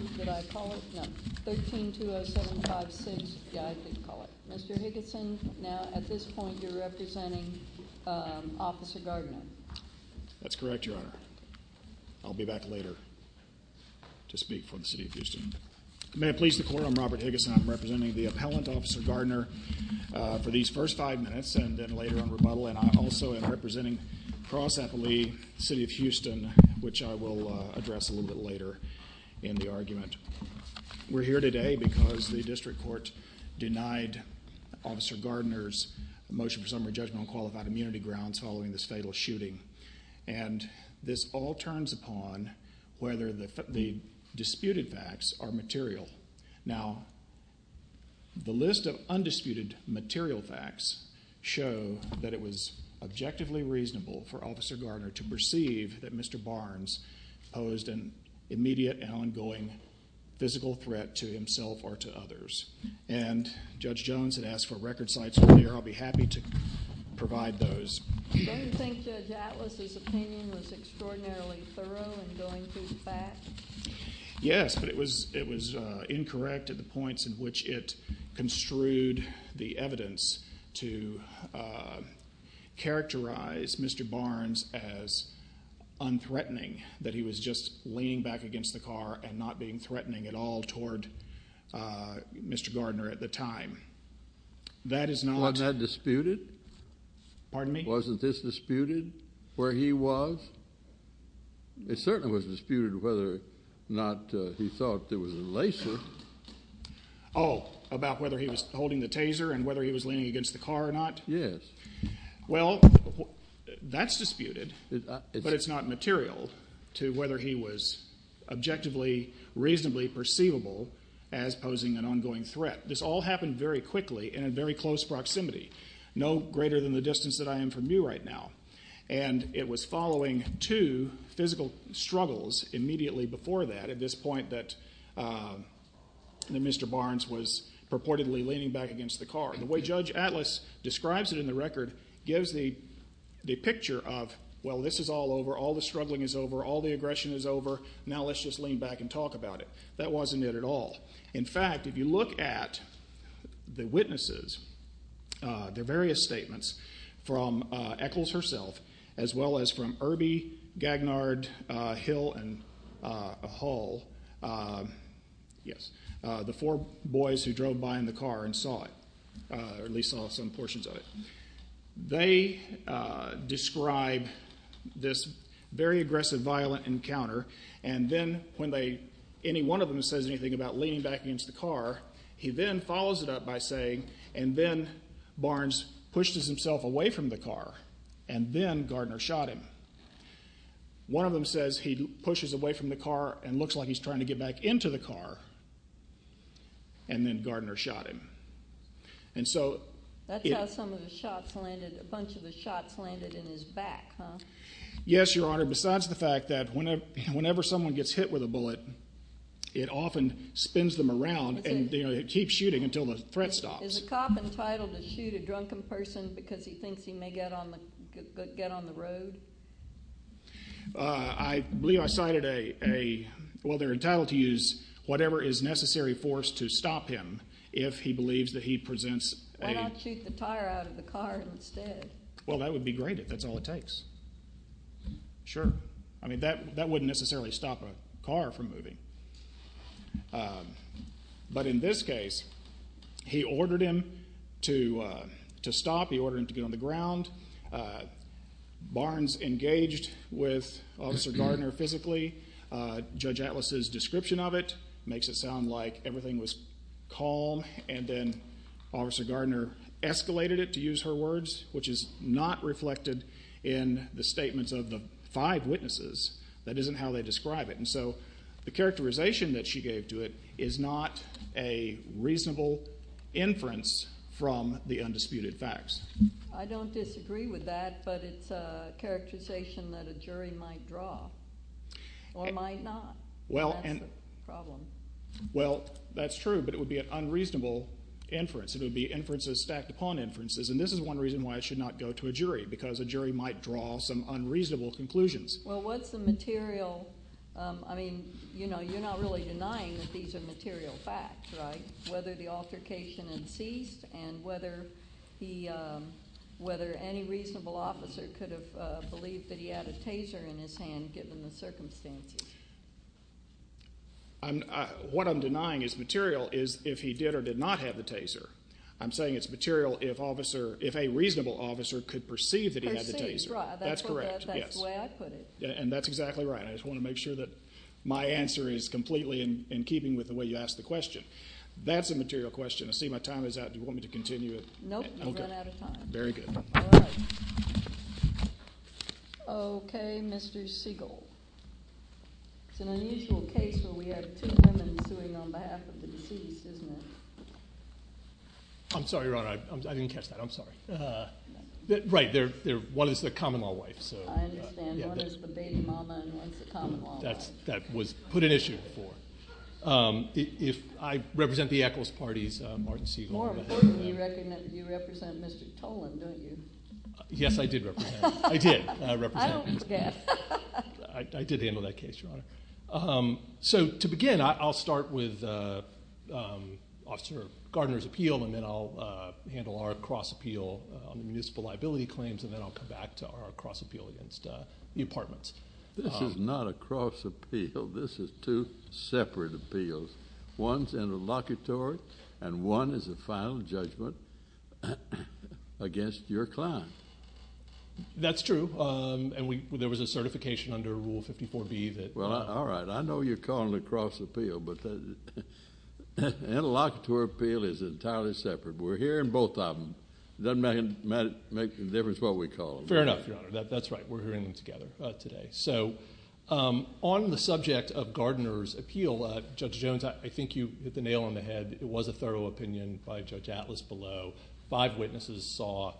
Mr. Higginson, now at this point, you're representing Officer Gardiner. That's correct, Your Honor. I'll be back later to speak for the City of Houston. May it please the Court, I'm Robert Higginson. I'm representing the appellant, Officer Gardiner, for these first five minutes and then later on rebuttal, and I'm also representing Cross Appellee, City of Houston, which I will address a little bit later in the argument. We're here today because the District Court denied Officer Gardiner's motion for summary judgment on qualified immunity grounds following this fatal shooting, and this all turns upon whether the disputed facts are material. Now, the list of undisputed material facts show that it was objectively reasonable for Officer Gardiner to perceive that Mr. Barnes posed an immediate and ongoing physical threat to himself or to others. And Judge Jones had asked for record sites earlier. I'll be happy to provide those. You don't think Judge Atlas' opinion was extraordinarily thorough in going through the facts? Yes, but it was incorrect at the points in which it construed the evidence to characterize Mr. Barnes as unthreatening, that he was just leaning back against the car and not being threatening at all toward Mr. Gardiner at the time. That is not... Wasn't that disputed? Pardon me? Wasn't this disputed, where he was? It certainly was disputed whether or not he thought there was a laser. Oh, about whether he was holding the taser and whether he was leaning against the car or not? Yes. Well, that's disputed, but it's not material to whether he was objectively reasonably perceivable as posing an ongoing threat. This all happened very quickly and in very close proximity, no greater than the distance that I am from you right now. And it was following two physical struggles immediately before that, at this point, that Mr. Barnes was purportedly leaning back against the car. The way Judge Atlas describes it in the record gives the picture of, well, this is all over. All the struggling is over. All the aggression is over. Now let's just lean back and talk about it. That wasn't it at all. In fact, if you look at the witnesses, their various statements from Echols herself, as well as from Irby, Gagnard, Hill, and Hull, yes, the four boys who drove by in the car and saw it, or at least saw some portions of it, they describe this very aggressive, violent encounter, and then when any one of them says anything about leaning back against the car, he then follows it up by saying, and then Barnes pushes himself away from the car, and then Gardner shot him. One of them says he pushes away from the car and looks like he's trying to get back into the car, and then Gardner shot him. That's how a bunch of the shots landed in his back, huh? Yes, Your Honor, besides the fact that whenever someone gets hit with a bullet, it often spins them around and keeps shooting until the threat stops. Is a cop entitled to shoot a drunken person because he thinks he may get on the road? I believe I cited a, well, they're entitled to use whatever is necessary force to stop him if he believes that he presents a Why not shoot the tire out of the car instead? Well, that would be great if that's all it takes. Sure. I mean, that wouldn't necessarily stop a car from moving. But in this case, he ordered him to stop. He ordered him to get on the ground. Barnes engaged with Officer Gardner physically. Judge Atlas's description of it makes it sound like everything was calm, and then Officer Gardner escalated it, to use her words, which is not reflected in the statements of the five witnesses. That isn't how they describe it. And so the characterization that she gave to it is not a reasonable inference from the undisputed facts. I don't disagree with that, but it's a characterization that a jury might draw or might not. That's the problem. Well, that's true, but it would be an unreasonable inference. It would be inferences stacked upon inferences, and this is one reason why it should not go to a jury, because a jury might draw some unreasonable conclusions. Well, what's the material? I mean, you know, you're not really denying that these are material facts, right, whether the altercation had ceased and whether any reasonable officer could have believed that he had a taser in his hand, given the circumstances. What I'm denying is material is if he did or did not have the taser. I'm saying it's material if a reasonable officer could perceive that he had the taser. That's correct. That's the way I put it. And that's exactly right. I just want to make sure that my answer is completely in keeping with the way you asked the question. That's a material question. I see my time is up. Do you want me to continue? No, you've run out of time. Very good. All right. Okay, Mr. Siegel. It's an unusual case where we have two women suing on behalf of the deceased, isn't it? I'm sorry, Your Honor. I didn't catch that. I'm sorry. Right. One is the common-law wife. I understand. One is the baby mama and one is the common-law wife. That was put at issue before. If I represent the Eccles parties, Martin Siegel. More importantly, you represent Mr. Tolan, don't you? Yes, I did represent. I did. I don't forget. I did handle that case, Your Honor. So to begin, I'll start with Officer Gardner's appeal, and then I'll handle our cross-appeal on the municipal liability claims, and then I'll come back to our cross-appeal against the apartments. This is not a cross-appeal. This is two separate appeals. One is interlocutory and one is a final judgment against your client. That's true. There was a certification under Rule 54B that. All right. I know you're calling it cross-appeal, but interlocutory appeal is entirely separate. We're hearing both of them. It doesn't make a difference what we call them. Fair enough, Your Honor. That's right. We're hearing them together today. On the subject of Gardner's appeal, Judge Jones, I think you hit the nail on the head. It was a thorough opinion by Judge Atlas below. Five witnesses saw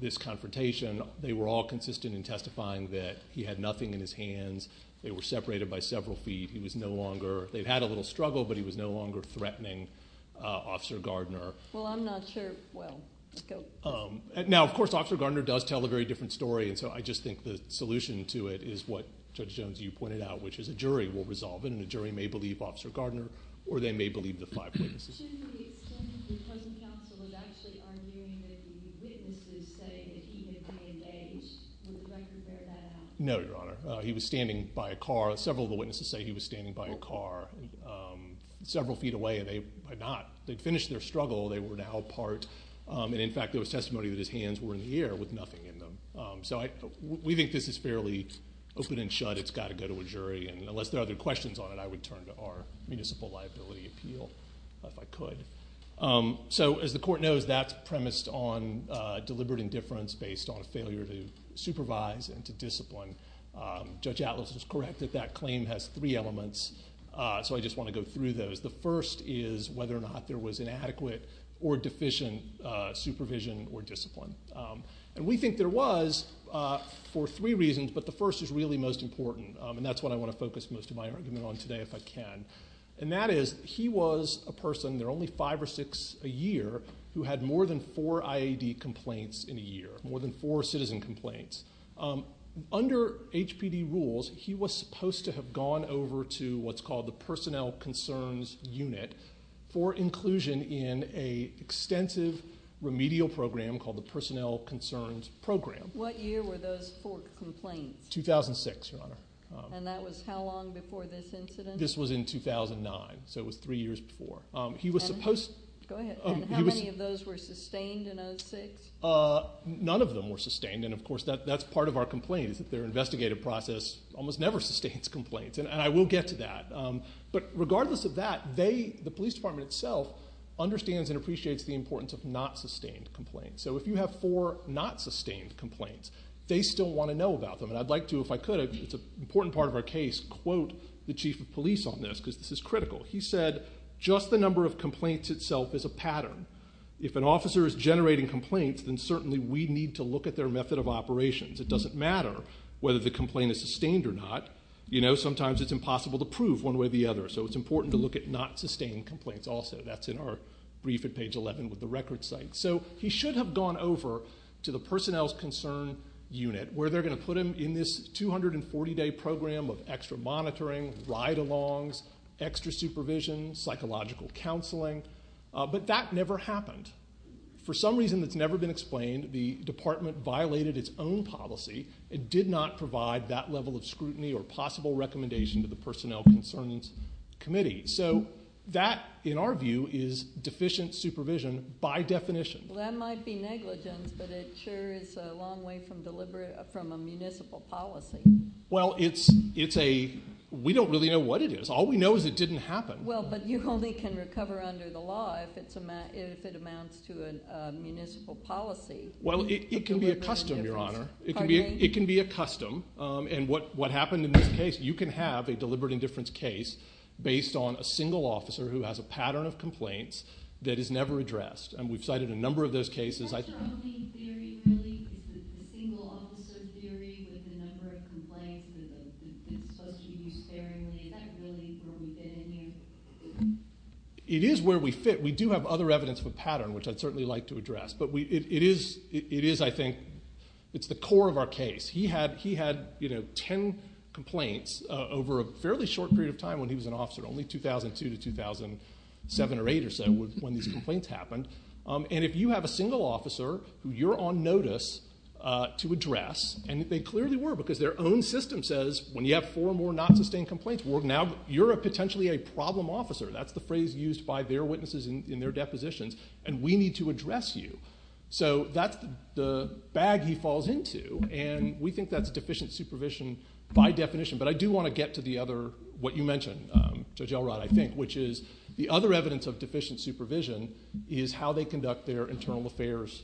this confrontation. They were all consistent in testifying that he had nothing in his hands. They were separated by several feet. He was no longer. They had a little struggle, but he was no longer threatening Officer Gardner. Well, I'm not sure. Well, let's go. Now, of course, Officer Gardner does tell a very different story, and so I just think the solution to it is what Judge Jones, you pointed out, which is a jury will resolve it, and a jury may believe Officer Gardner, or they may believe the five witnesses. Shouldn't the extent that the present counsel is actually arguing that the witnesses say that he had been engaged? Would the record bear that out? No, Your Honor. He was standing by a car. Several of the witnesses say he was standing by a car several feet away, and they are not. They'd finished their struggle. They were now part. In fact, there was testimony that his hands were in the air with nothing in them. We think this is fairly open and shut. It's got to go to a jury, and unless there are other questions on it, I would turn to our Municipal Liability Appeal if I could. As the Court knows, that's premised on deliberate indifference based on failure to supervise and to discipline. Judge Atlas was correct that that claim has three elements, so I just want to go through those. The first is whether or not there was inadequate or deficient supervision or discipline. We think there was for three reasons, but the first is really most important, and that's what I want to focus most of my argument on today if I can. That is, he was a person, there are only five or six a year, who had more than four IAD complaints in a year, more than four citizen complaints. Under HPD rules, he was supposed to have gone over to what's called the Personnel Concerns Unit for inclusion in an extensive remedial program called the Personnel Concerns Program. What year were those four complaints? 2006, Your Honor. And that was how long before this incident? This was in 2009, so it was three years before. And how many of those were sustained in 2006? None of them were sustained, and, of course, that's part of our complaint, is that their investigative process almost never sustains complaints, and I will get to that. But regardless of that, the police department itself understands and appreciates the importance of not sustained complaints. So if you have four not sustained complaints, they still want to know about them, and I'd like to, if I could, it's an important part of our case, quote the chief of police on this because this is critical. He said, just the number of complaints itself is a pattern. If an officer is generating complaints, then certainly we need to look at their method of operations. It doesn't matter whether the complaint is sustained or not. You know, sometimes it's impossible to prove one way or the other, so it's important to look at not sustained complaints also. That's in our brief at page 11 with the record site. So he should have gone over to the personnel's concern unit where they're going to put him in this 240-day program of extra monitoring, ride-alongs, extra supervision, psychological counseling, but that never happened. For some reason that's never been explained, the department violated its own policy and did not provide that level of scrutiny or possible recommendation to the personnel concerns committee. So that, in our view, is deficient supervision by definition. Well, that might be negligence, but it sure is a long way from a municipal policy. Well, it's a we don't really know what it is. All we know is it didn't happen. Well, but you only can recover under the law if it amounts to a municipal policy. Well, it can be a custom, Your Honor. It can be a custom. And what happened in this case, you can have a deliberate indifference case based on a single officer who has a pattern of complaints that is never addressed. And we've cited a number of those cases. Is that your only theory, really? Is it the single officer theory with the number of complaints that's supposed to be used sparingly? Is that really where we fit in here? It is where we fit. We do have other evidence of a pattern, which I'd certainly like to address. But it is, I think, it's the core of our case. He had ten complaints over a fairly short period of time when he was an officer, only 2002 to 2007 or 2008 or so when these complaints happened. And if you have a single officer who you're on notice to address, and they clearly were, because their own system says when you have four or more not sustained complaints, now you're potentially a problem officer. That's the phrase used by their witnesses in their depositions. And we need to address you. So that's the bag he falls into. And we think that's deficient supervision by definition. But I do want to get to the other, what you mentioned, Judge Elrod, I think, which is the other evidence of deficient supervision is how they conduct their internal affairs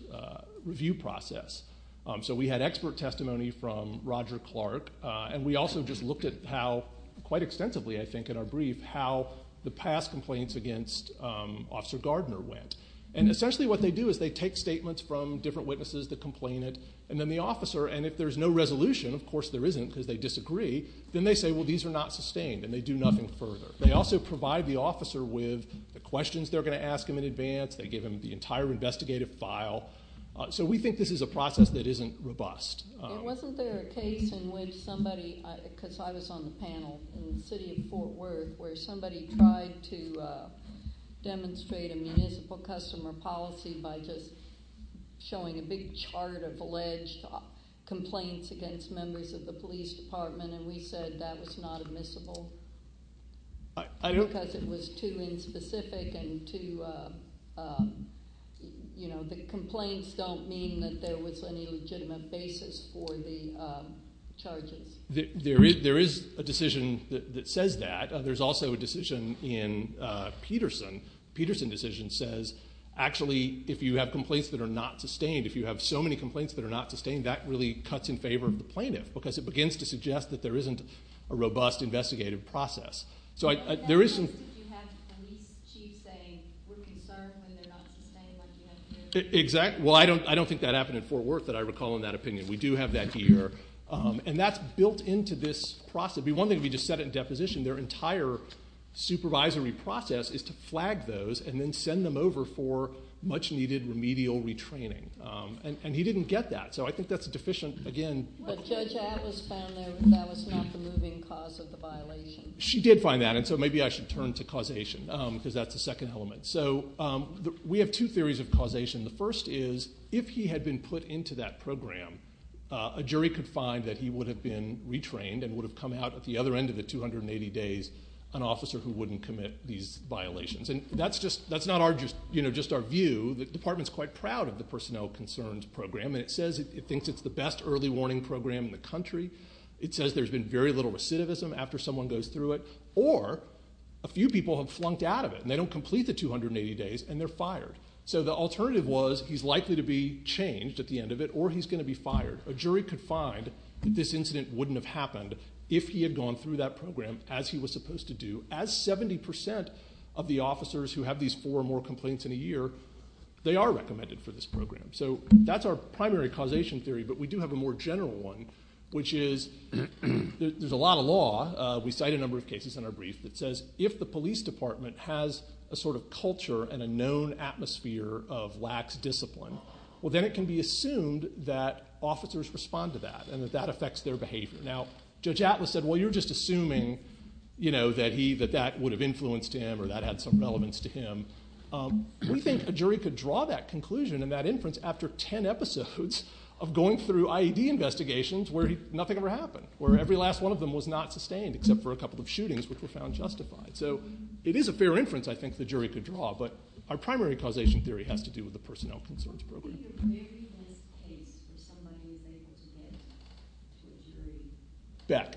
review process. So we had expert testimony from Roger Clark, and we also just looked at how quite extensively, I think, in our brief, how the past complaints against Officer Gardner went. And essentially what they do is they take statements from different witnesses that complained, and then the officer, and if there's no resolution, of course there isn't because they disagree, then they say, well, these are not sustained, and they do nothing further. They also provide the officer with the questions they're going to ask him in advance. They give him the entire investigative file. So we think this is a process that isn't robust. In the city of Fort Worth where somebody tried to demonstrate a municipal customer policy by just showing a big chart of alleged complaints against members of the police department, and we said that was not admissible because it was too inspecific and too, you know, the complaints don't mean that there was any legitimate basis for the charges. There is a decision that says that. There's also a decision in Peterson. The Peterson decision says, actually, if you have complaints that are not sustained, if you have so many complaints that are not sustained, that really cuts in favor of the plaintiff because it begins to suggest that there isn't a robust investigative process. So there is some – Well, at least if you have the police chief saying we're concerned when they're not sustained, like you have here. Exactly. Well, I don't think that happened in Fort Worth that I recall in that opinion. We do have that here. And that's built into this process. One thing if you just set it in deposition, their entire supervisory process is to flag those and then send them over for much-needed remedial retraining. And he didn't get that. So I think that's deficient, again. But Judge Atlas found that that was not the moving cause of the violation. She did find that, and so maybe I should turn to causation because that's the second element. So we have two theories of causation. The first is if he had been put into that program, a jury could find that he would have been retrained and would have come out at the other end of the 280 days an officer who wouldn't commit these violations. And that's not just our view. The department's quite proud of the Personnel Concerns Program, and it says it thinks it's the best early warning program in the country. It says there's been very little recidivism after someone goes through it, or a few people have flunked out of it, and they don't complete the 280 days, and they're fired. So the alternative was he's likely to be changed at the end of it, or he's going to be fired. A jury could find that this incident wouldn't have happened if he had gone through that program as he was supposed to do. As 70% of the officers who have these four or more complaints in a year, they are recommended for this program. So that's our primary causation theory, but we do have a more general one, which is there's a lot of law. We cite a number of cases in our brief that says if the police department has a sort of culture and a known atmosphere of lax discipline, well, then it can be assumed that officers respond to that, and that that affects their behavior. Now, Judge Atlas said, well, you're just assuming that that would have influenced him or that had some relevance to him. We think a jury could draw that conclusion and that inference after 10 episodes of going through IED investigations where nothing ever happened, where every last one of them was not sustained except for a couple of shootings which were found justified. So it is a fair inference I think the jury could draw, but our primary causation theory has to do with the personnel concerns program. What's your very best case for someone who was able to get to a jury? Beck.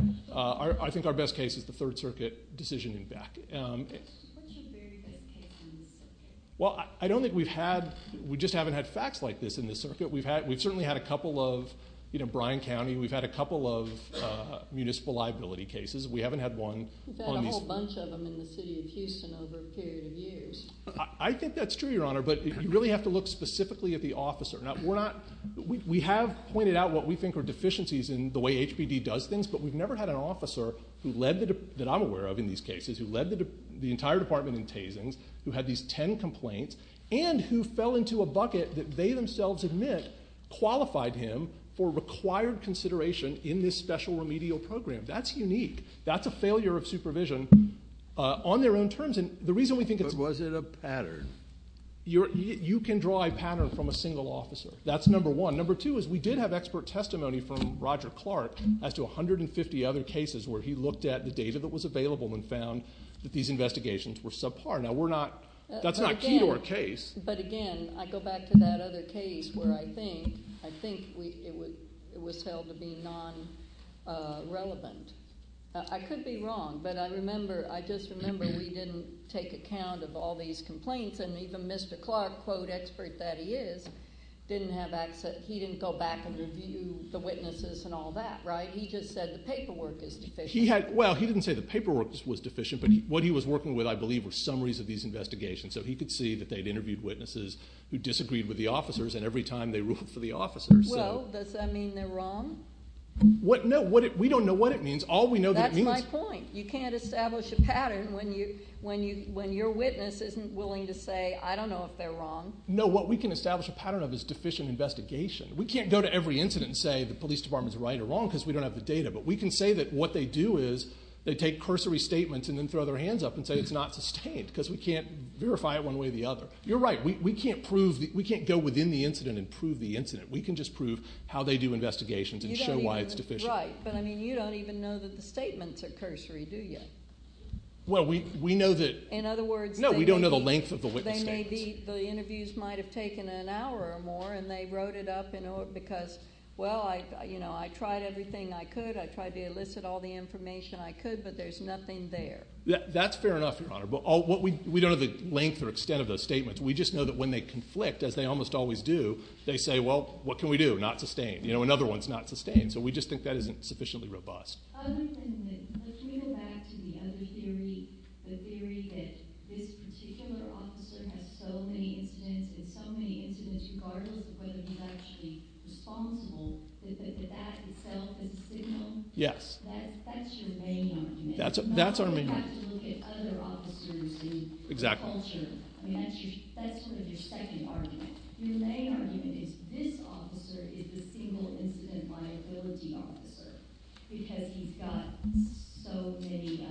I think our best case is the Third Circuit decision in Beck. What's your very best case in this circuit? Well, I don't think we've had – we just haven't had facts like this in this circuit. We've certainly had a couple of, you know, Bryan County. We've had a couple of municipal liability cases. We haven't had one. We've had a whole bunch of them in the city of Houston over a period of years. I think that's true, Your Honor, but you really have to look specifically at the officer. Now, we're not – we have pointed out what we think are deficiencies in the way HPD does things, but we've never had an officer that I'm aware of in these cases who led the entire department in tasings, who had these ten complaints, and who fell into a bucket that they themselves admit qualified him for required consideration in this special remedial program. That's unique. That's a failure of supervision on their own terms, and the reason we think it's – But was it a pattern? You can draw a pattern from a single officer. That's number one. Number two is we did have expert testimony from Roger Clark as to 150 other cases where he looked at the data that was available and found that these investigations were subpar. Now, we're not – that's not key to our case. But again, I go back to that other case where I think it was held to be non-relevant. I could be wrong, but I remember – I just remember we didn't take account of all these complaints, and even Mr. Clark, quote, expert that he is, didn't have access – he didn't go back and review the witnesses and all that, right? He just said the paperwork is deficient. Well, he didn't say the paperwork was deficient, but what he was working with, I believe, were summaries of these investigations. So he could see that they had interviewed witnesses who disagreed with the officers and every time they ruled for the officers. Well, does that mean they're wrong? No. We don't know what it means. All we know that it means – That's my point. You can't establish a pattern when your witness isn't willing to say, I don't know if they're wrong. No, what we can establish a pattern of is deficient investigation. We can't go to every incident and say the police department is right or wrong because we don't have the data. But we can say that what they do is they take cursory statements and then throw their hands up and say it's not sustained because we can't verify it one way or the other. You're right. We can't go within the incident and prove the incident. We can just prove how they do investigations and show why it's deficient. Right. But, I mean, you don't even know that the statements are cursory, do you? Well, we know that – In other words, they may be – No, we don't know the length of the witness statements. The interviews might have taken an hour or more, and they wrote it up because, well, I tried everything I could. I tried to elicit all the information I could, but there's nothing there. That's fair enough, Your Honor. But we don't know the length or extent of those statements. We just know that when they conflict, as they almost always do, they say, well, what can we do? Not sustained. Another one's not sustained. So we just think that isn't sufficiently robust. Other than that, let me go back to the other theory, the theory that this particular officer has so many incidents and so many incidents regardless of whether he's actually responsible, that that itself is a signal. Yes. That's your main argument. That's our main argument. You don't have to look at other officers in your culture. Exactly. I mean, that's sort of your second argument. Your main argument is this officer is the single incident liability officer because he's got so many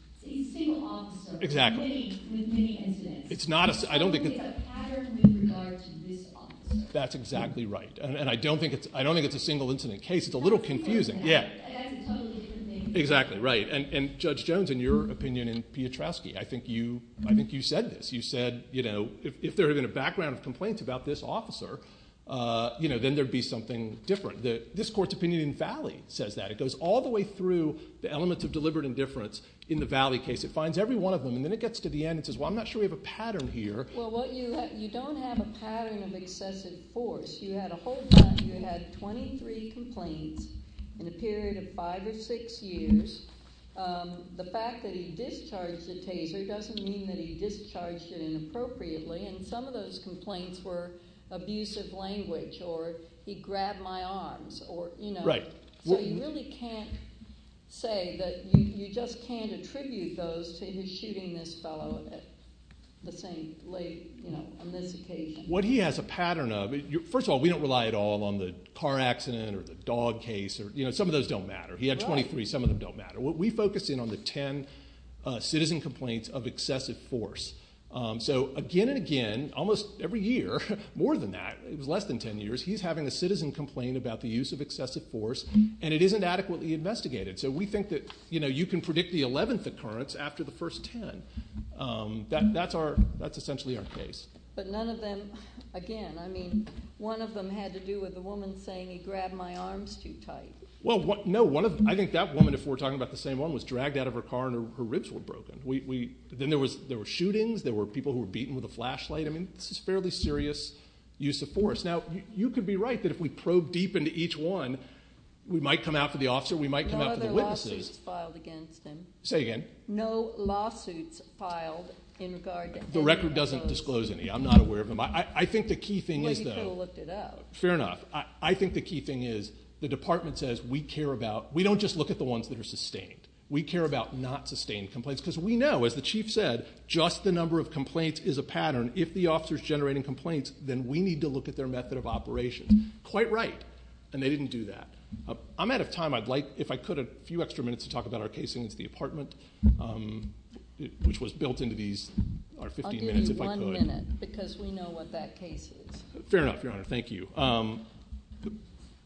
– he's a single officer. Exactly. With many incidents. It's a pattern in regards to this officer. That's exactly right. And I don't think it's a single incident case. It's a little confusing. That's a totally different thing. Exactly, right. And Judge Jones, in your opinion and Piotrowski, I think you said this. You said if there had been a background of complaints about this officer, then there would be something different. This Court's opinion in Valley says that. It goes all the way through the elements of deliberate indifference in the Valley case. It finds every one of them, and then it gets to the end and says, well, I'm not sure we have a pattern here. Well, you don't have a pattern of excessive force. You had a whole – you had 23 complaints in a period of five or six years. The fact that he discharged the taser doesn't mean that he discharged it inappropriately, and some of those complaints were abusive language or he grabbed my arms. Right. So you really can't say that you just can't attribute those to his shooting this fellow at the same late – on this occasion. What he has a pattern of – first of all, we don't rely at all on the car accident or the dog case. Some of those don't matter. He had 23. Some of them don't matter. We focus in on the 10 citizen complaints of excessive force. So again and again, almost every year, more than that, it was less than 10 years, he's having a citizen complain about the use of excessive force, and it isn't adequately investigated. So we think that you can predict the 11th occurrence after the first 10. That's essentially our case. But none of them – again, I mean, one of them had to do with a woman saying he grabbed my arms too tight. Well, no. I think that woman, if we're talking about the same one, was dragged out of her car and her ribs were broken. Then there were shootings. There were people who were beaten with a flashlight. I mean, this is fairly serious use of force. Now, you could be right that if we probe deep into each one, we might come out for the officer, we might come out for the witnesses. No other lawsuits filed against him. Say again. No lawsuits filed in regard to any of those. The record doesn't disclose any. I'm not aware of them. I think the key thing is the – Well, you could have looked it up. Fair enough. I think the key thing is the department says we care about – we don't just look at the ones that are sustained. We care about not-sustained complaints because we know, as the chief said, just the number of complaints is a pattern. If the officer is generating complaints, then we need to look at their method of operation. Quite right. And they didn't do that. I'm out of time. I'd like, if I could, a few extra minutes to talk about our case against the apartment, which was built into these 15 minutes, if I could. I'll give you one minute because we know what that case is. Fair enough, Your Honor. Thank you.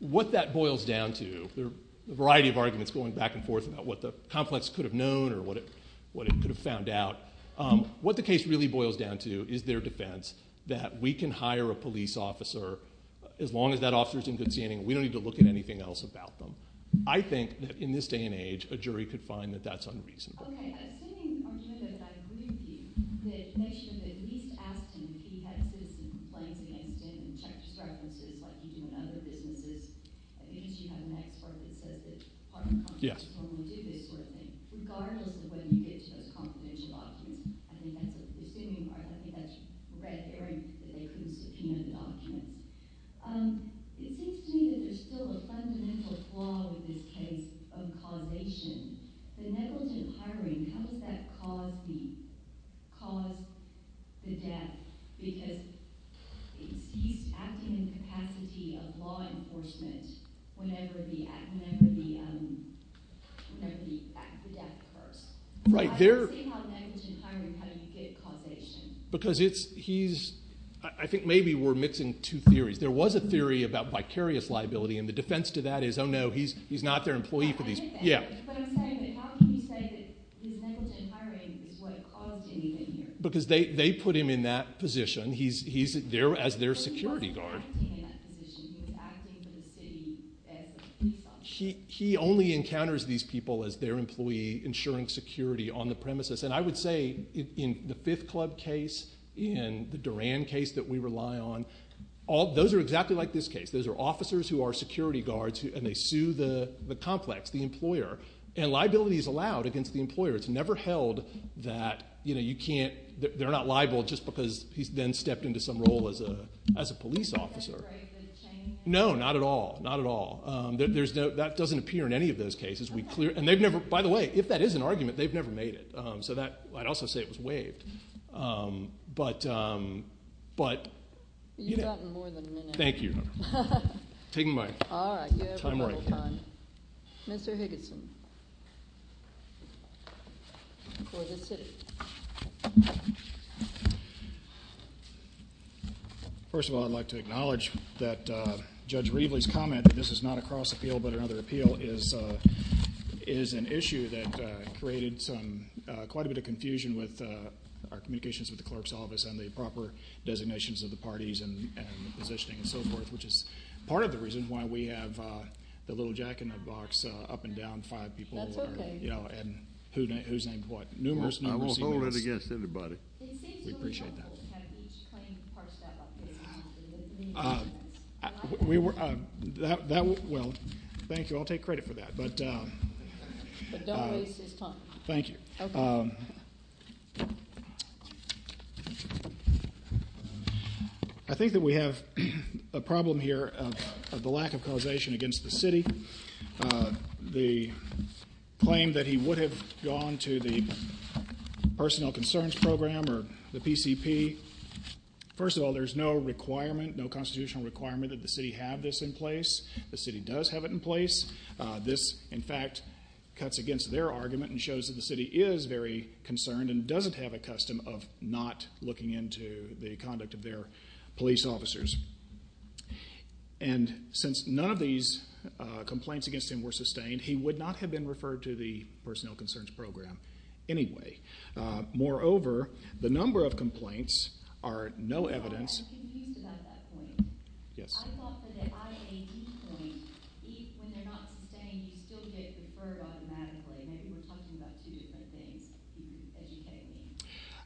What that boils down to, there are a variety of arguments going back and forth about what the complex could have known or what it could have found out. What the case really boils down to is their defense that we can hire a police officer as long as that officer is in good standing. We don't need to look at anything else about them. I think that in this day and age, a jury could find that that's unreasonable. Okay. I think that's a presuming part. I think that's red herring that they could have subpoenaed the documents. It seems to me that there's still a fundamental flaw with this case of causation. The negligent hiring, how does that cause the death? Because he's acting in the capacity of law enforcement whenever the death occurs. I don't see how negligent hiring had a good causation. I think maybe we're mixing two theories. There was a theory about vicarious liability, and the defense to that is, oh, no, he's not their employee for these. I get that. But I'm saying that how can you say that his negligent hiring is what caused anything here? Because they put him in that position. He's there as their security guard. He wasn't acting in that position. He was acting for the city as a police officer. He only encounters these people as their employee ensuring security on the premises. And I would say in the Fifth Club case, in the Duran case that we rely on, those are exactly like this case. Those are officers who are security guards, and they sue the complex, the employer. And liability is allowed against the employer. It's never held that they're not liable just because he's then stepped into some role as a police officer. That's right. It's a chain. No, not at all, not at all. That doesn't appear in any of those cases. And, by the way, if that is an argument, they've never made it. So I'd also say it was waived. But, you know. You've gotten more than a minute. Thank you. I'm taking my time right here. Mr. Higginson for the city. First of all, I'd like to acknowledge that Judge Reveley's comment that this is not a cross appeal but another appeal is an issue that created quite a bit of confusion with our communications with the clerk's office and the proper designations of the parties and the positioning and so forth, which is part of the reason why we have the little jack-in-the-box up and down five people. That's okay. And who's named what? Numerous, numerous emails. I won't hold it against anybody. We appreciate that. Well, thank you. I'll take credit for that. But don't waste his time. Thank you. Okay. I think that we have a problem here of the lack of causation against the city. The claim that he would have gone to the personnel concerns program or the PCP. First of all, there's no requirement, no constitutional requirement that the city have this in place. The city does have it in place. This, in fact, cuts against their argument and shows that the city is very concerned and doesn't have a custom of not looking into the conduct of their police officers. And since none of these complaints against him were sustained, he would not have been referred to the personnel concerns program anyway. Moreover, the number of complaints are no evidence. I'm confused about that point. Yes. I thought that the IAD point, when they're not sustained, you still get referred automatically. Maybe we're talking about two different things.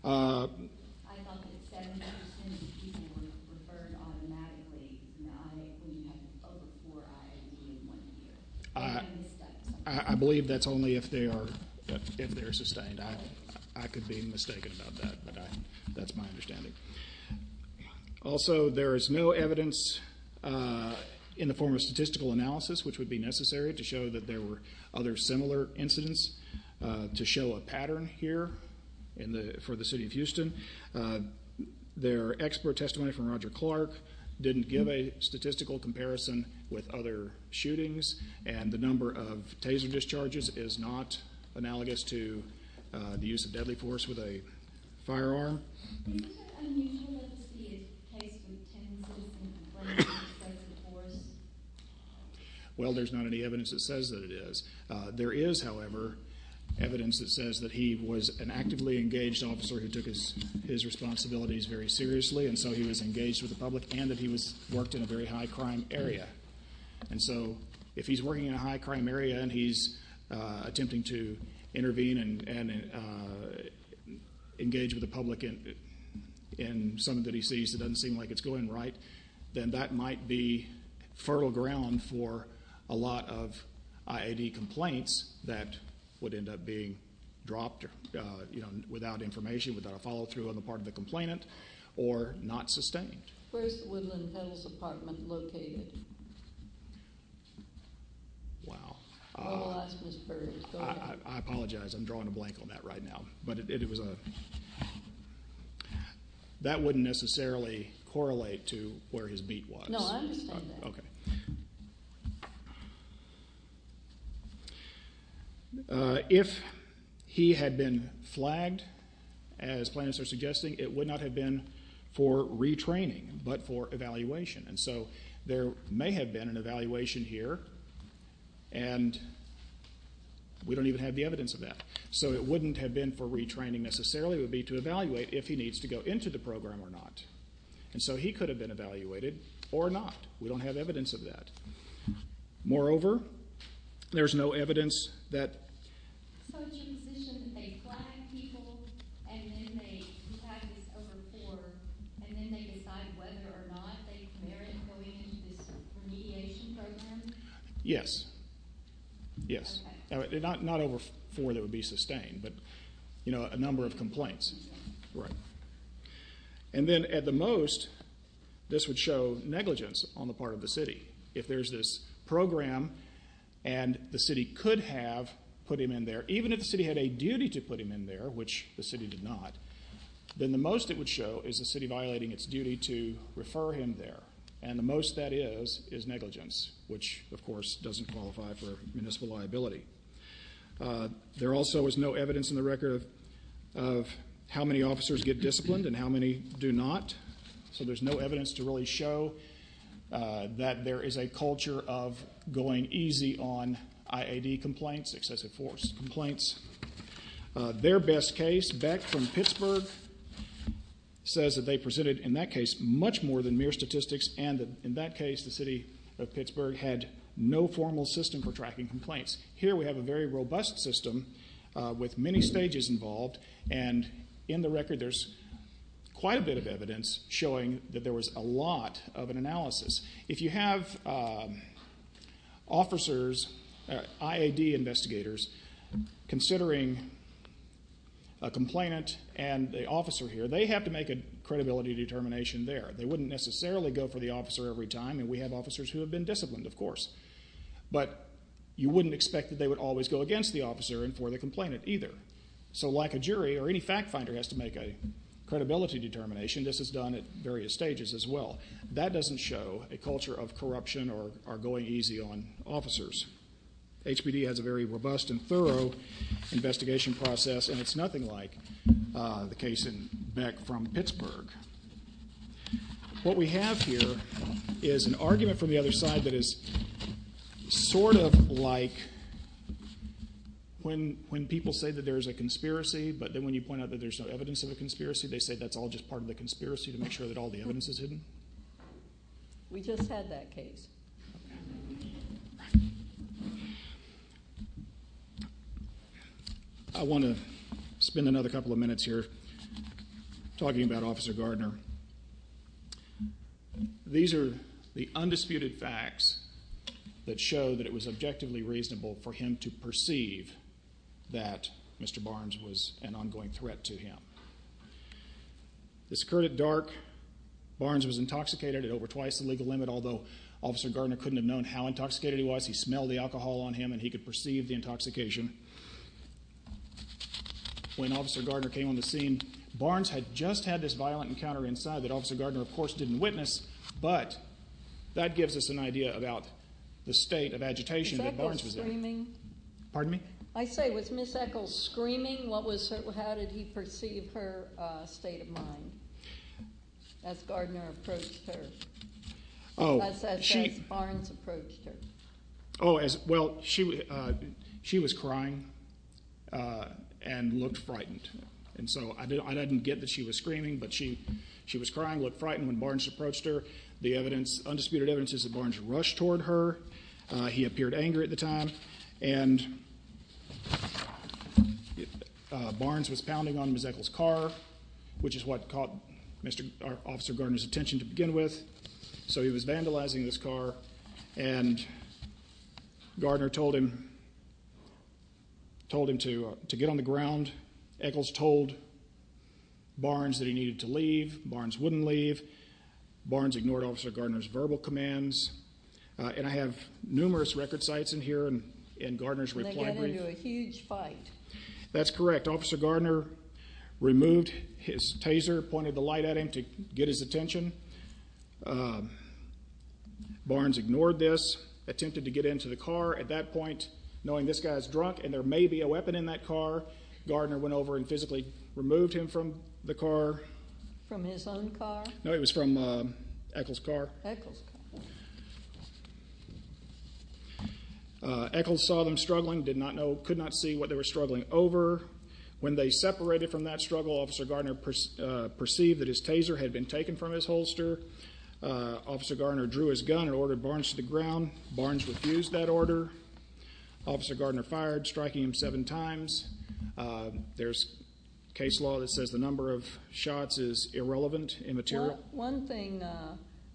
I thought that 70% of the people were referred automatically, not when you have over four IADs in one year. I believe that's only if they are sustained. I could be mistaken about that, but that's my understanding. Also, there is no evidence in the form of statistical analysis, which would be necessary to show that there were other similar incidents, to show a pattern here for the city of Houston. Their expert testimony from Roger Clark didn't give a statistical comparison with other shootings, and the number of taser discharges is not analogous to the use of deadly force with a firearm. Is it unusual to see a case with ten people in the front row with deadly force? Well, there's not any evidence that says that it is. There is, however, evidence that says that he was an actively engaged officer who took his responsibilities very seriously, and so he was engaged with the public and that he worked in a very high-crime area. And so if he's working in a high-crime area and he's attempting to intervene and engage with the public in something that he sees that doesn't seem like it's going right, then that might be fertile ground for a lot of IAD complaints that would end up being dropped without information, without a follow-through on the part of the complainant, or not sustained. Where is the Woodland Hills apartment located? Wow. I will ask Ms. Burge. I apologize. I'm drawing a blank on that right now. But that wouldn't necessarily correlate to where his beat was. No, I understand that. Okay. If he had been flagged, as plaintiffs are suggesting, it would not have been for retraining but for evaluation. And so there may have been an evaluation here, and we don't even have the evidence of that. So it wouldn't have been for retraining necessarily. It would be to evaluate if he needs to go into the program or not. And so he could have been evaluated or not. We don't have evidence of that. Moreover, there's no evidence that the position that they flag people and then they decide whether or not they merit going into this remediation program. Yes. Yes. Okay. Not over four that would be sustained, but, you know, a number of complaints. Right. And then at the most, this would show negligence on the part of the city. If there's this program and the city could have put him in there, even if the city had a duty to put him in there, which the city did not, then the most it would show is the city violating its duty to refer him there. And the most that is is negligence, which, of course, doesn't qualify for municipal liability. There also is no evidence in the record of how many officers get disciplined and how many do not. So there's no evidence to really show that there is a culture of going easy on IAD complaints, excessive force complaints. Their best case, back from Pittsburgh, says that they presented in that case much more than mere statistics and that in that case the city of Pittsburgh had no formal system for tracking complaints. Here we have a very robust system with many stages involved, and in the record there's quite a bit of evidence showing that there was a lot of an analysis. If you have officers, IAD investigators, considering a complainant and the officer here, they have to make a credibility determination there. They wouldn't necessarily go for the officer every time, and we have officers who have been disciplined, of course. But you wouldn't expect that they would always go against the officer and for the complainant either. So like a jury or any fact finder has to make a credibility determination, this is done at various stages as well. That doesn't show a culture of corruption or going easy on officers. HPD has a very robust and thorough investigation process, and it's nothing like the case back from Pittsburgh. What we have here is an argument from the other side that is sort of like when people say that there's a conspiracy, but then when you point out that there's no evidence of a conspiracy, they say that's all just part of the conspiracy to make sure that all the evidence is hidden. We just had that case. I want to spend another couple of minutes here talking about Officer Gardner. These are the undisputed facts that show that it was objectively reasonable for him to perceive that Mr. Barnes was an ongoing threat to him. This occurred at dark. Barnes was intoxicated at over twice the legal limit, although Officer Gardner couldn't have known how intoxicated he was. He smelled the alcohol on him, and he could perceive the intoxication. When Officer Gardner came on the scene, Barnes had just had this violent encounter inside that Officer Gardner, of course, didn't witness, but that gives us an idea about the state of agitation that Barnes was in. Pardon me? I say, was Miss Echols screaming? How did he perceive her state of mind as Gardner approached her, as Barnes approached her? Well, she was crying and looked frightened, and so I didn't get that she was screaming, but she was crying, looked frightened when Barnes approached her. The undisputed evidence is that Barnes rushed toward her. He appeared angry at the time, and Barnes was pounding on Miss Echols' car, which is what caught Officer Gardner's attention to begin with. So he was vandalizing this car, and Gardner told him to get on the ground. Echols told Barnes that he needed to leave. Barnes wouldn't leave. Barnes ignored Officer Gardner's verbal commands. And I have numerous record sites in here in Gardner's reply brief. They got into a huge fight. That's correct. Officer Gardner removed his taser, pointed the light at him to get his attention. Barnes ignored this, attempted to get into the car. At that point, knowing this guy is drunk and there may be a weapon in that car, Gardner went over and physically removed him from the car. From his own car? No, it was from Echols' car. Echols' car. Echols saw them struggling, did not know, could not see what they were struggling over. When they separated from that struggle, Officer Gardner perceived that his taser had been taken from his holster. Officer Gardner drew his gun and ordered Barnes to the ground. Barnes refused that order. Officer Gardner fired, striking him seven times. One thing,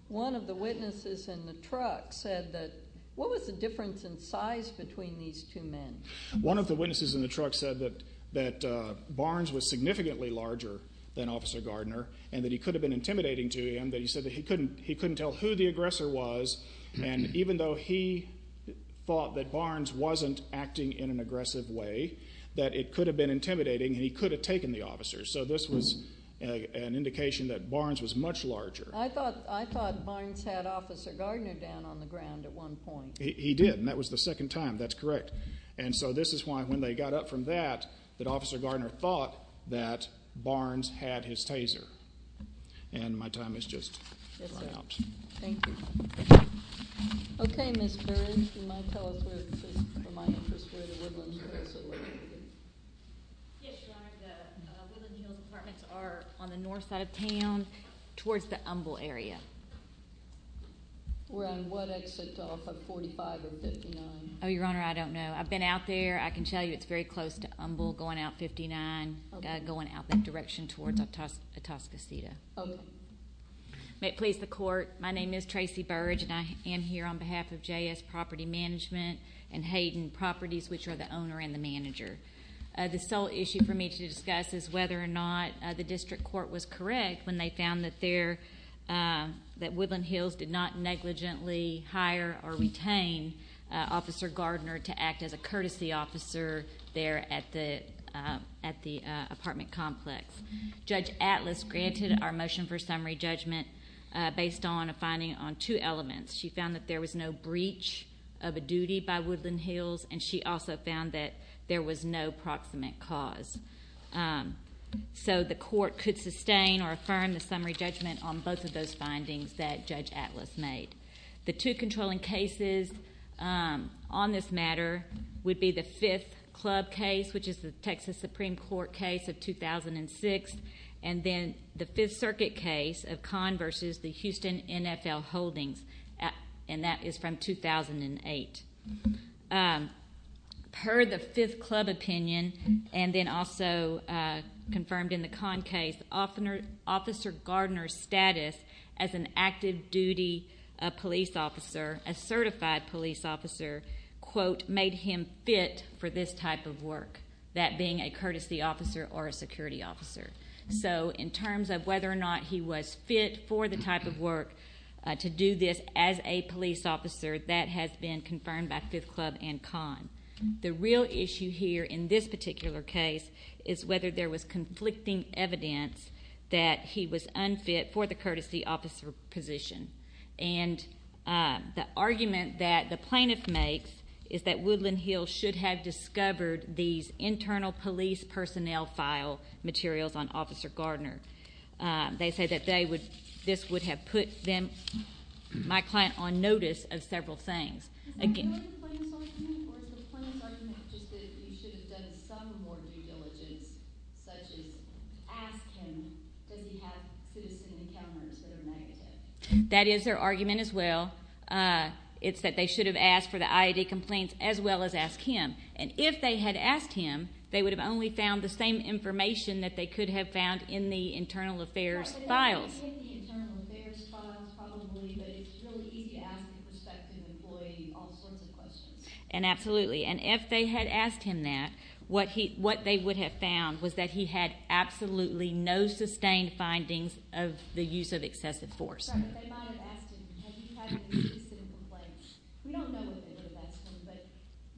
one of the witnesses in the truck said that, what was the difference in size between these two men? One of the witnesses in the truck said that Barnes was significantly larger than Officer Gardner and that he could have been intimidating to him. He said that he couldn't tell who the aggressor was. And even though he thought that Barnes wasn't acting in an aggressive way, that it could have been intimidating and he could have taken the officer. So this was an indication that Barnes was much larger. I thought Barnes had Officer Gardner down on the ground at one point. He did, and that was the second time. That's correct. And so this is why when they got up from that, that Officer Gardner thought that Barnes had his taser. And my time has just run out. Yes, sir. Thank you. Okay, Ms. Burns, you might tell us where, for my interest, where the woodlands were. Yes, Your Honor. The Woodland Hills Apartments are on the north side of town towards the Humble area. We're on what exit off of 45 or 59? Oh, Your Honor, I don't know. I've been out there. I can tell you it's very close to Humble going out 59, going out that direction towards Atascocita. Okay. May it please the Court, my name is Tracy Burge, and I am here on behalf of JS Property Management and Hayden Properties, which are the owner and the manager. The sole issue for me to discuss is whether or not the district court was correct when they found that Woodland Hills did not negligently hire or retain Officer Gardner to act as a courtesy officer there at the apartment complex. Judge Atlas granted our motion for summary judgment based on a finding on two elements. She found that there was no breach of a duty by Woodland Hills, and she also found that there was no proximate cause. So the Court could sustain or affirm the summary judgment on both of those findings that Judge Atlas made. The two controlling cases on this matter would be the Fifth Club case, which is the Texas Supreme Court case of 2006, and then the Fifth Circuit case of Conn v. the Houston NFL Holdings, and that is from 2008. Per the Fifth Club opinion, and then also confirmed in the Conn case, Officer Gardner's status as an active duty police officer, a certified police officer, made him fit for this type of work, that being a courtesy officer or a security officer. So in terms of whether or not he was fit for the type of work to do this as a police officer, that has been confirmed by Fifth Club and Conn. The real issue here in this particular case is whether there was conflicting evidence that he was unfit for the courtesy officer position. And the argument that the plaintiff makes is that Woodland Hills should have discovered these internal police personnel file materials on Officer Gardner. They say that this would have put them, my client, on notice of several things. Is that really the plaintiff's argument, or is the plaintiff's argument just that he should have done some more due diligence, such as ask him, does he have citizen encounters that are negative? That is their argument as well. It's that they should have asked for the I.A.D. complaints as well as ask him. And if they had asked him, they would have only found the same information that they could have found in the internal affairs files. Not in the internal affairs files probably, but it's really easy to ask the prospective employee all sorts of questions. And absolutely. And if they had asked him that, what they would have found was that he had absolutely no sustained findings of the use of excessive force. Sorry, but they might have asked him, have you had any citizen complaints? We don't know if they would have asked him, but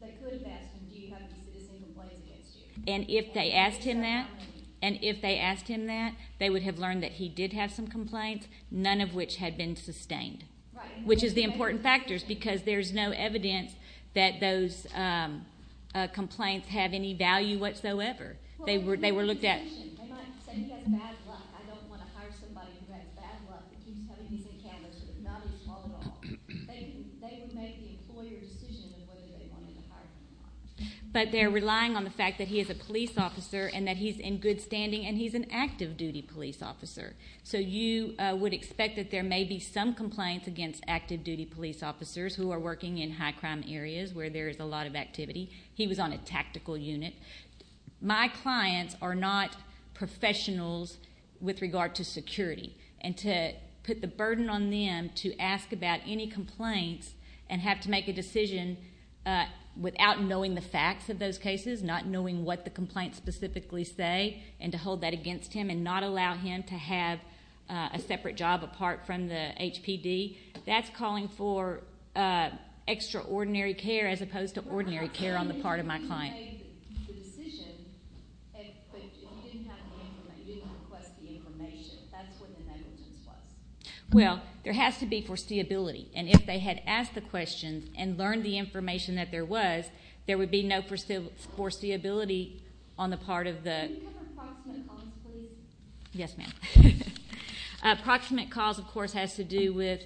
they could have asked him, do you have any citizen complaints against you? And if they asked him that, and if they asked him that, they would have learned that he did have some complaints, none of which had been sustained, which is the important factors because there's no evidence that those complaints have any value whatsoever. They were looked at. They might have said he had bad luck. I don't want to hire somebody who had bad luck and keeps having these encounters. It's not his fault at all. They would make the employer's decision on whether they wanted to hire him or not. But they're relying on the fact that he is a police officer and that he's in good standing and he's an active-duty police officer. So you would expect that there may be some complaints against active-duty police officers who are working in high-crime areas where there is a lot of activity. He was on a tactical unit. My clients are not professionals with regard to security, and to put the burden on them to ask about any complaints and have to make a decision without knowing the facts of those cases, not knowing what the complaints specifically say, and to hold that against him and not allow him to have a separate job apart from the HPD, that's calling for extraordinary care as opposed to ordinary care on the part of my client. Well, there has to be foreseeability, and if they had asked the questions and learned the information that there was, there would be no foreseeability on the part of the... Can you cover proximate cause, please? Yes, ma'am. Proximate cause, of course, has to do with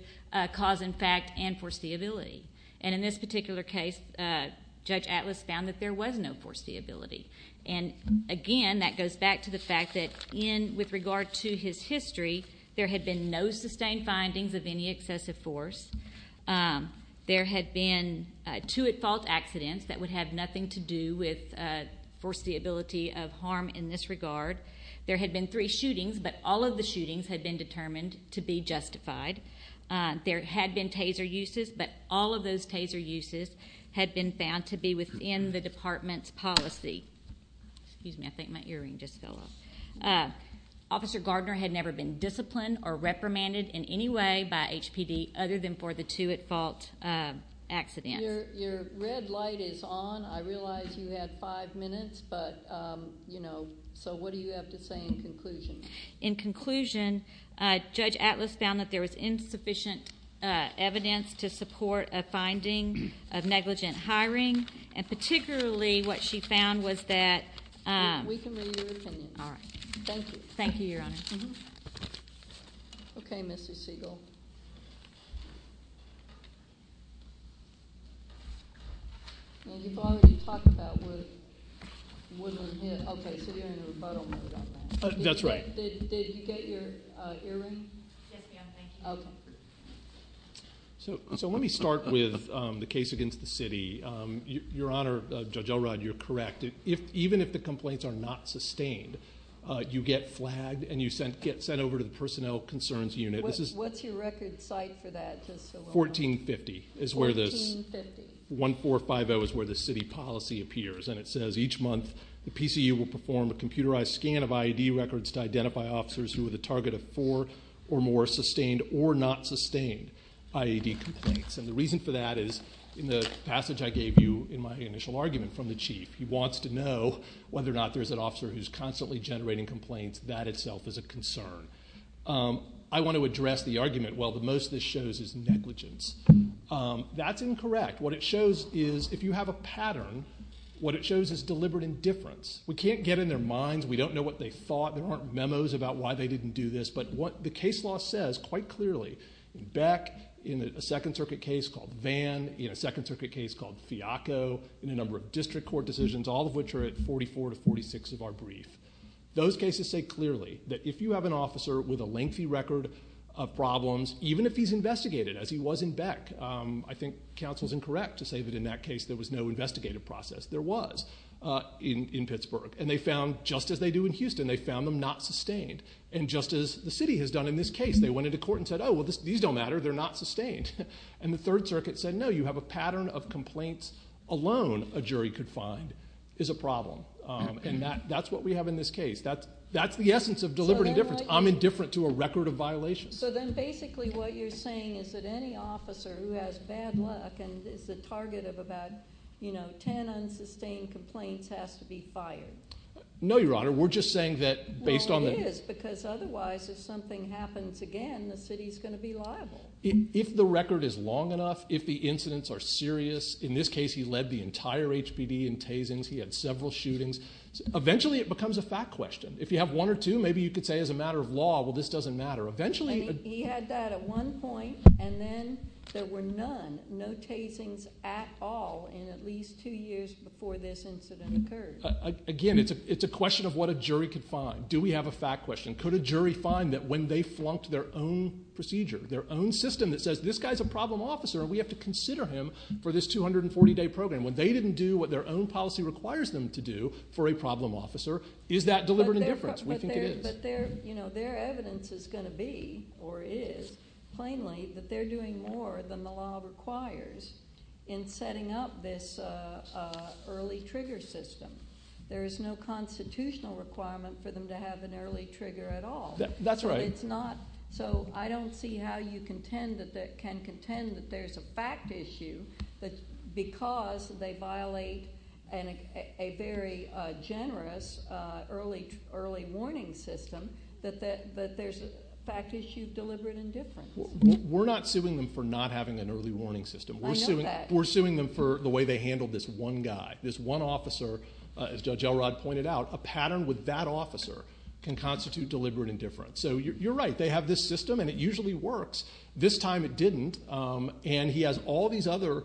cause in fact and foreseeability. And in this particular case, Judge Atlas found that there was no foreseeability. And again, that goes back to the fact that with regard to his history, there had been no sustained findings of any excessive force. There had been two at-fault accidents that would have nothing to do with foreseeability of harm in this regard. There had been three shootings, but all of the shootings had been determined to be justified. There had been taser uses, but all of those taser uses had been found to be within the department's policy. Excuse me, I think my earring just fell off. Officer Gardner had never been disciplined or reprimanded in any way by HPD other than for the two at-fault accidents. Your red light is on. I realize you had five minutes, but, you know, so what do you have to say in conclusion? In conclusion, Judge Atlas found that there was insufficient evidence to support a finding of negligent hiring, and particularly what she found was that... We can read your opinion. All right. Thank you. Thank you, Your Honor. Okay, Ms. Siegel. You've already talked about what was a hit. Okay, so you're in a rebuttal mode on that. That's right. Did you get your earring? Yes, ma'am. Thank you. Okay. So let me start with the case against the city. Your Honor, Judge Elrod, you're correct. Even if the complaints are not sustained, you get flagged and you get sent over to the Personnel Concerns Unit. What's your record site for that? 1450 is where the city policy appears, and it says each month the PCU will perform a computerized scan of IED records to identify officers who are the target of four or more sustained or not sustained IED complaints, and the reason for that is in the passage I gave you in my initial argument from the Chief. He wants to know whether or not there's an officer who's constantly generating complaints. That itself is a concern. I want to address the argument, well, the most this shows is negligence. That's incorrect. What it shows is if you have a pattern, what it shows is deliberate indifference. We can't get in their minds. We don't know what they thought. There aren't memos about why they didn't do this, but what the case law says quite clearly, in Beck, in a Second Circuit case called Vann, in a Second Circuit case called Fiaco, in a number of district court decisions, all of which are at 44 to 46 of our brief, those cases say clearly that if you have an officer with a lengthy record of problems, even if he's investigated as he was in Beck, I think counsel's incorrect to say that in that case there was no investigative process. There was in Pittsburgh, and they found just as they do in Houston, they found them not sustained, and just as the city has done in this case. They went into court and said, oh, well, these don't matter. They're not sustained. And the Third Circuit said, no, you have a pattern of complaints alone a jury could find is a problem, and that's what we have in this case. That's the essence of deliberate indifference. I'm indifferent to a record of violations. So then basically what you're saying is that any officer who has bad luck and is the target of about 10 unsustained complaints has to be fired. No, Your Honor. We're just saying that based on the- Well, it is because otherwise if something happens again, the city's going to be liable. If the record is long enough, if the incidents are serious, in this case he led the entire HPD in tasings, he had several shootings, eventually it becomes a fact question. If you have one or two, maybe you could say as a matter of law, well, this doesn't matter. Eventually- He had that at one point, and then there were none, no tasings at all, in at least two years before this incident occurred. Again, it's a question of what a jury could find. Do we have a fact question? Could a jury find that when they flunked their own procedure, their own system that says this guy's a problem officer and we have to consider him for this 240-day program, when they didn't do what their own policy requires them to do for a problem officer, is that deliberate indifference? We think it is. But their evidence is going to be, or is, plainly, that they're doing more than the law requires in setting up this early trigger system. There is no constitutional requirement for them to have an early trigger at all. That's right. It's not. So I don't see how you can contend that there's a fact issue, but because they violate a very generous early warning system, that there's a fact issue of deliberate indifference. We're not suing them for not having an early warning system. I know that. We're suing them for the way they handled this one guy, this one officer. As Judge Elrod pointed out, a pattern with that officer can constitute deliberate indifference. So you're right. They have this system, and it usually works. This time it didn't. And he has all these other,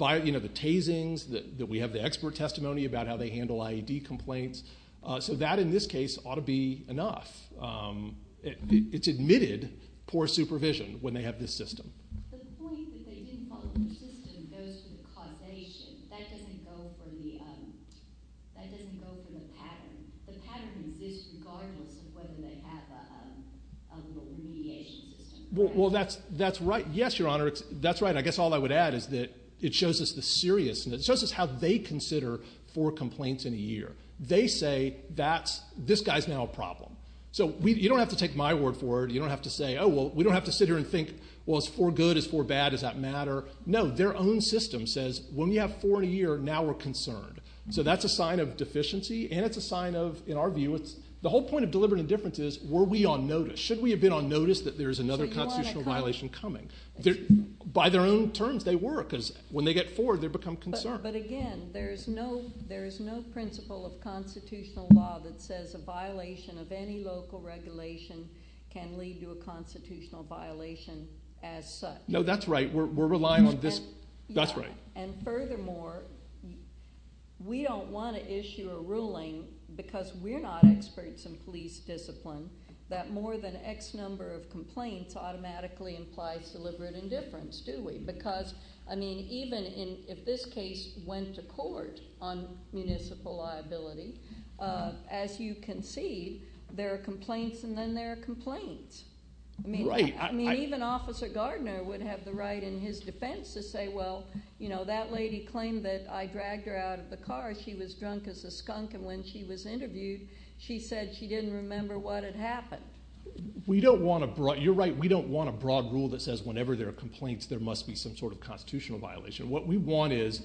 you know, the tasings, that we have the expert testimony about how they handle IED complaints. So that, in this case, ought to be enough. It's admitted poor supervision when they have this system. The point that they didn't follow the system goes to the causation. That doesn't go for the pattern. The pattern exists regardless of whether they have a mediation system. Well, that's right. Yes, Your Honor, that's right. I guess all I would add is that it shows us the seriousness. It shows us how they consider four complaints in a year. They say, this guy's now a problem. So you don't have to take my word for it. You don't have to say, oh, well, we don't have to sit here and think, well, it's four good, it's four bad, does that matter? No, their own system says, when we have four in a year, now we're concerned. So that's a sign of deficiency, and it's a sign of, in our view, the whole point of deliberate indifference is, were we on notice? Should we have been on notice that there's another constitutional violation coming? By their own terms, they were, because when they get four, they become concerned. But again, there is no principle of constitutional law that says a violation of any local regulation can lead to a constitutional violation as such. No, that's right. We're relying on this. That's right. And furthermore, we don't want to issue a ruling, because we're not experts in police discipline, that more than X number of complaints automatically implies deliberate indifference, do we? Because, I mean, even if this case went to court on municipal liability, as you can see, there are complaints, and then there are complaints. Right. I mean, even Officer Gardner would have the right in his defense to say, well, you know, that lady claimed that I dragged her out of the car. She was drunk as a skunk, and when she was interviewed, she said she didn't remember what had happened. You're right. We don't want a broad rule that says whenever there are complaints, there must be some sort of constitutional violation. What we want is,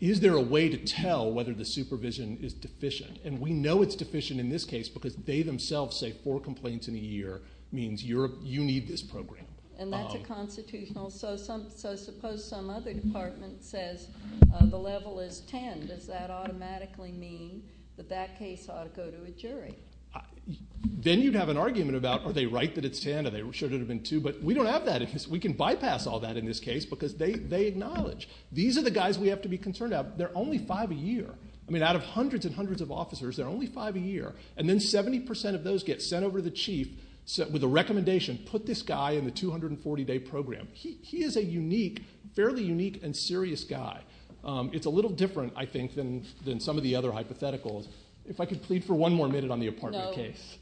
is there a way to tell whether the supervision is deficient? And we know it's deficient in this case because they themselves say four complaints in a year means you need this program. And that's a constitutional. So suppose some other department says the level is 10. Then you'd have an argument about are they right that it's 10, or should it have been two? But we don't have that. We can bypass all that in this case because they acknowledge. These are the guys we have to be concerned about. They're only five a year. I mean, out of hundreds and hundreds of officers, there are only five a year. And then 70% of those get sent over to the chief with a recommendation, put this guy in the 240-day program. He is a unique, fairly unique and serious guy. It's a little different, I think, than some of the other hypotheticals. If I could plead for one more minute on the apartment case. No.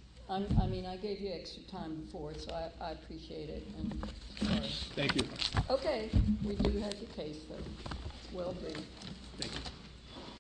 I mean, I gave you extra time before, so I appreciate it. All right. Thank you. Okay. We do have your case, though. Well done. Thank you.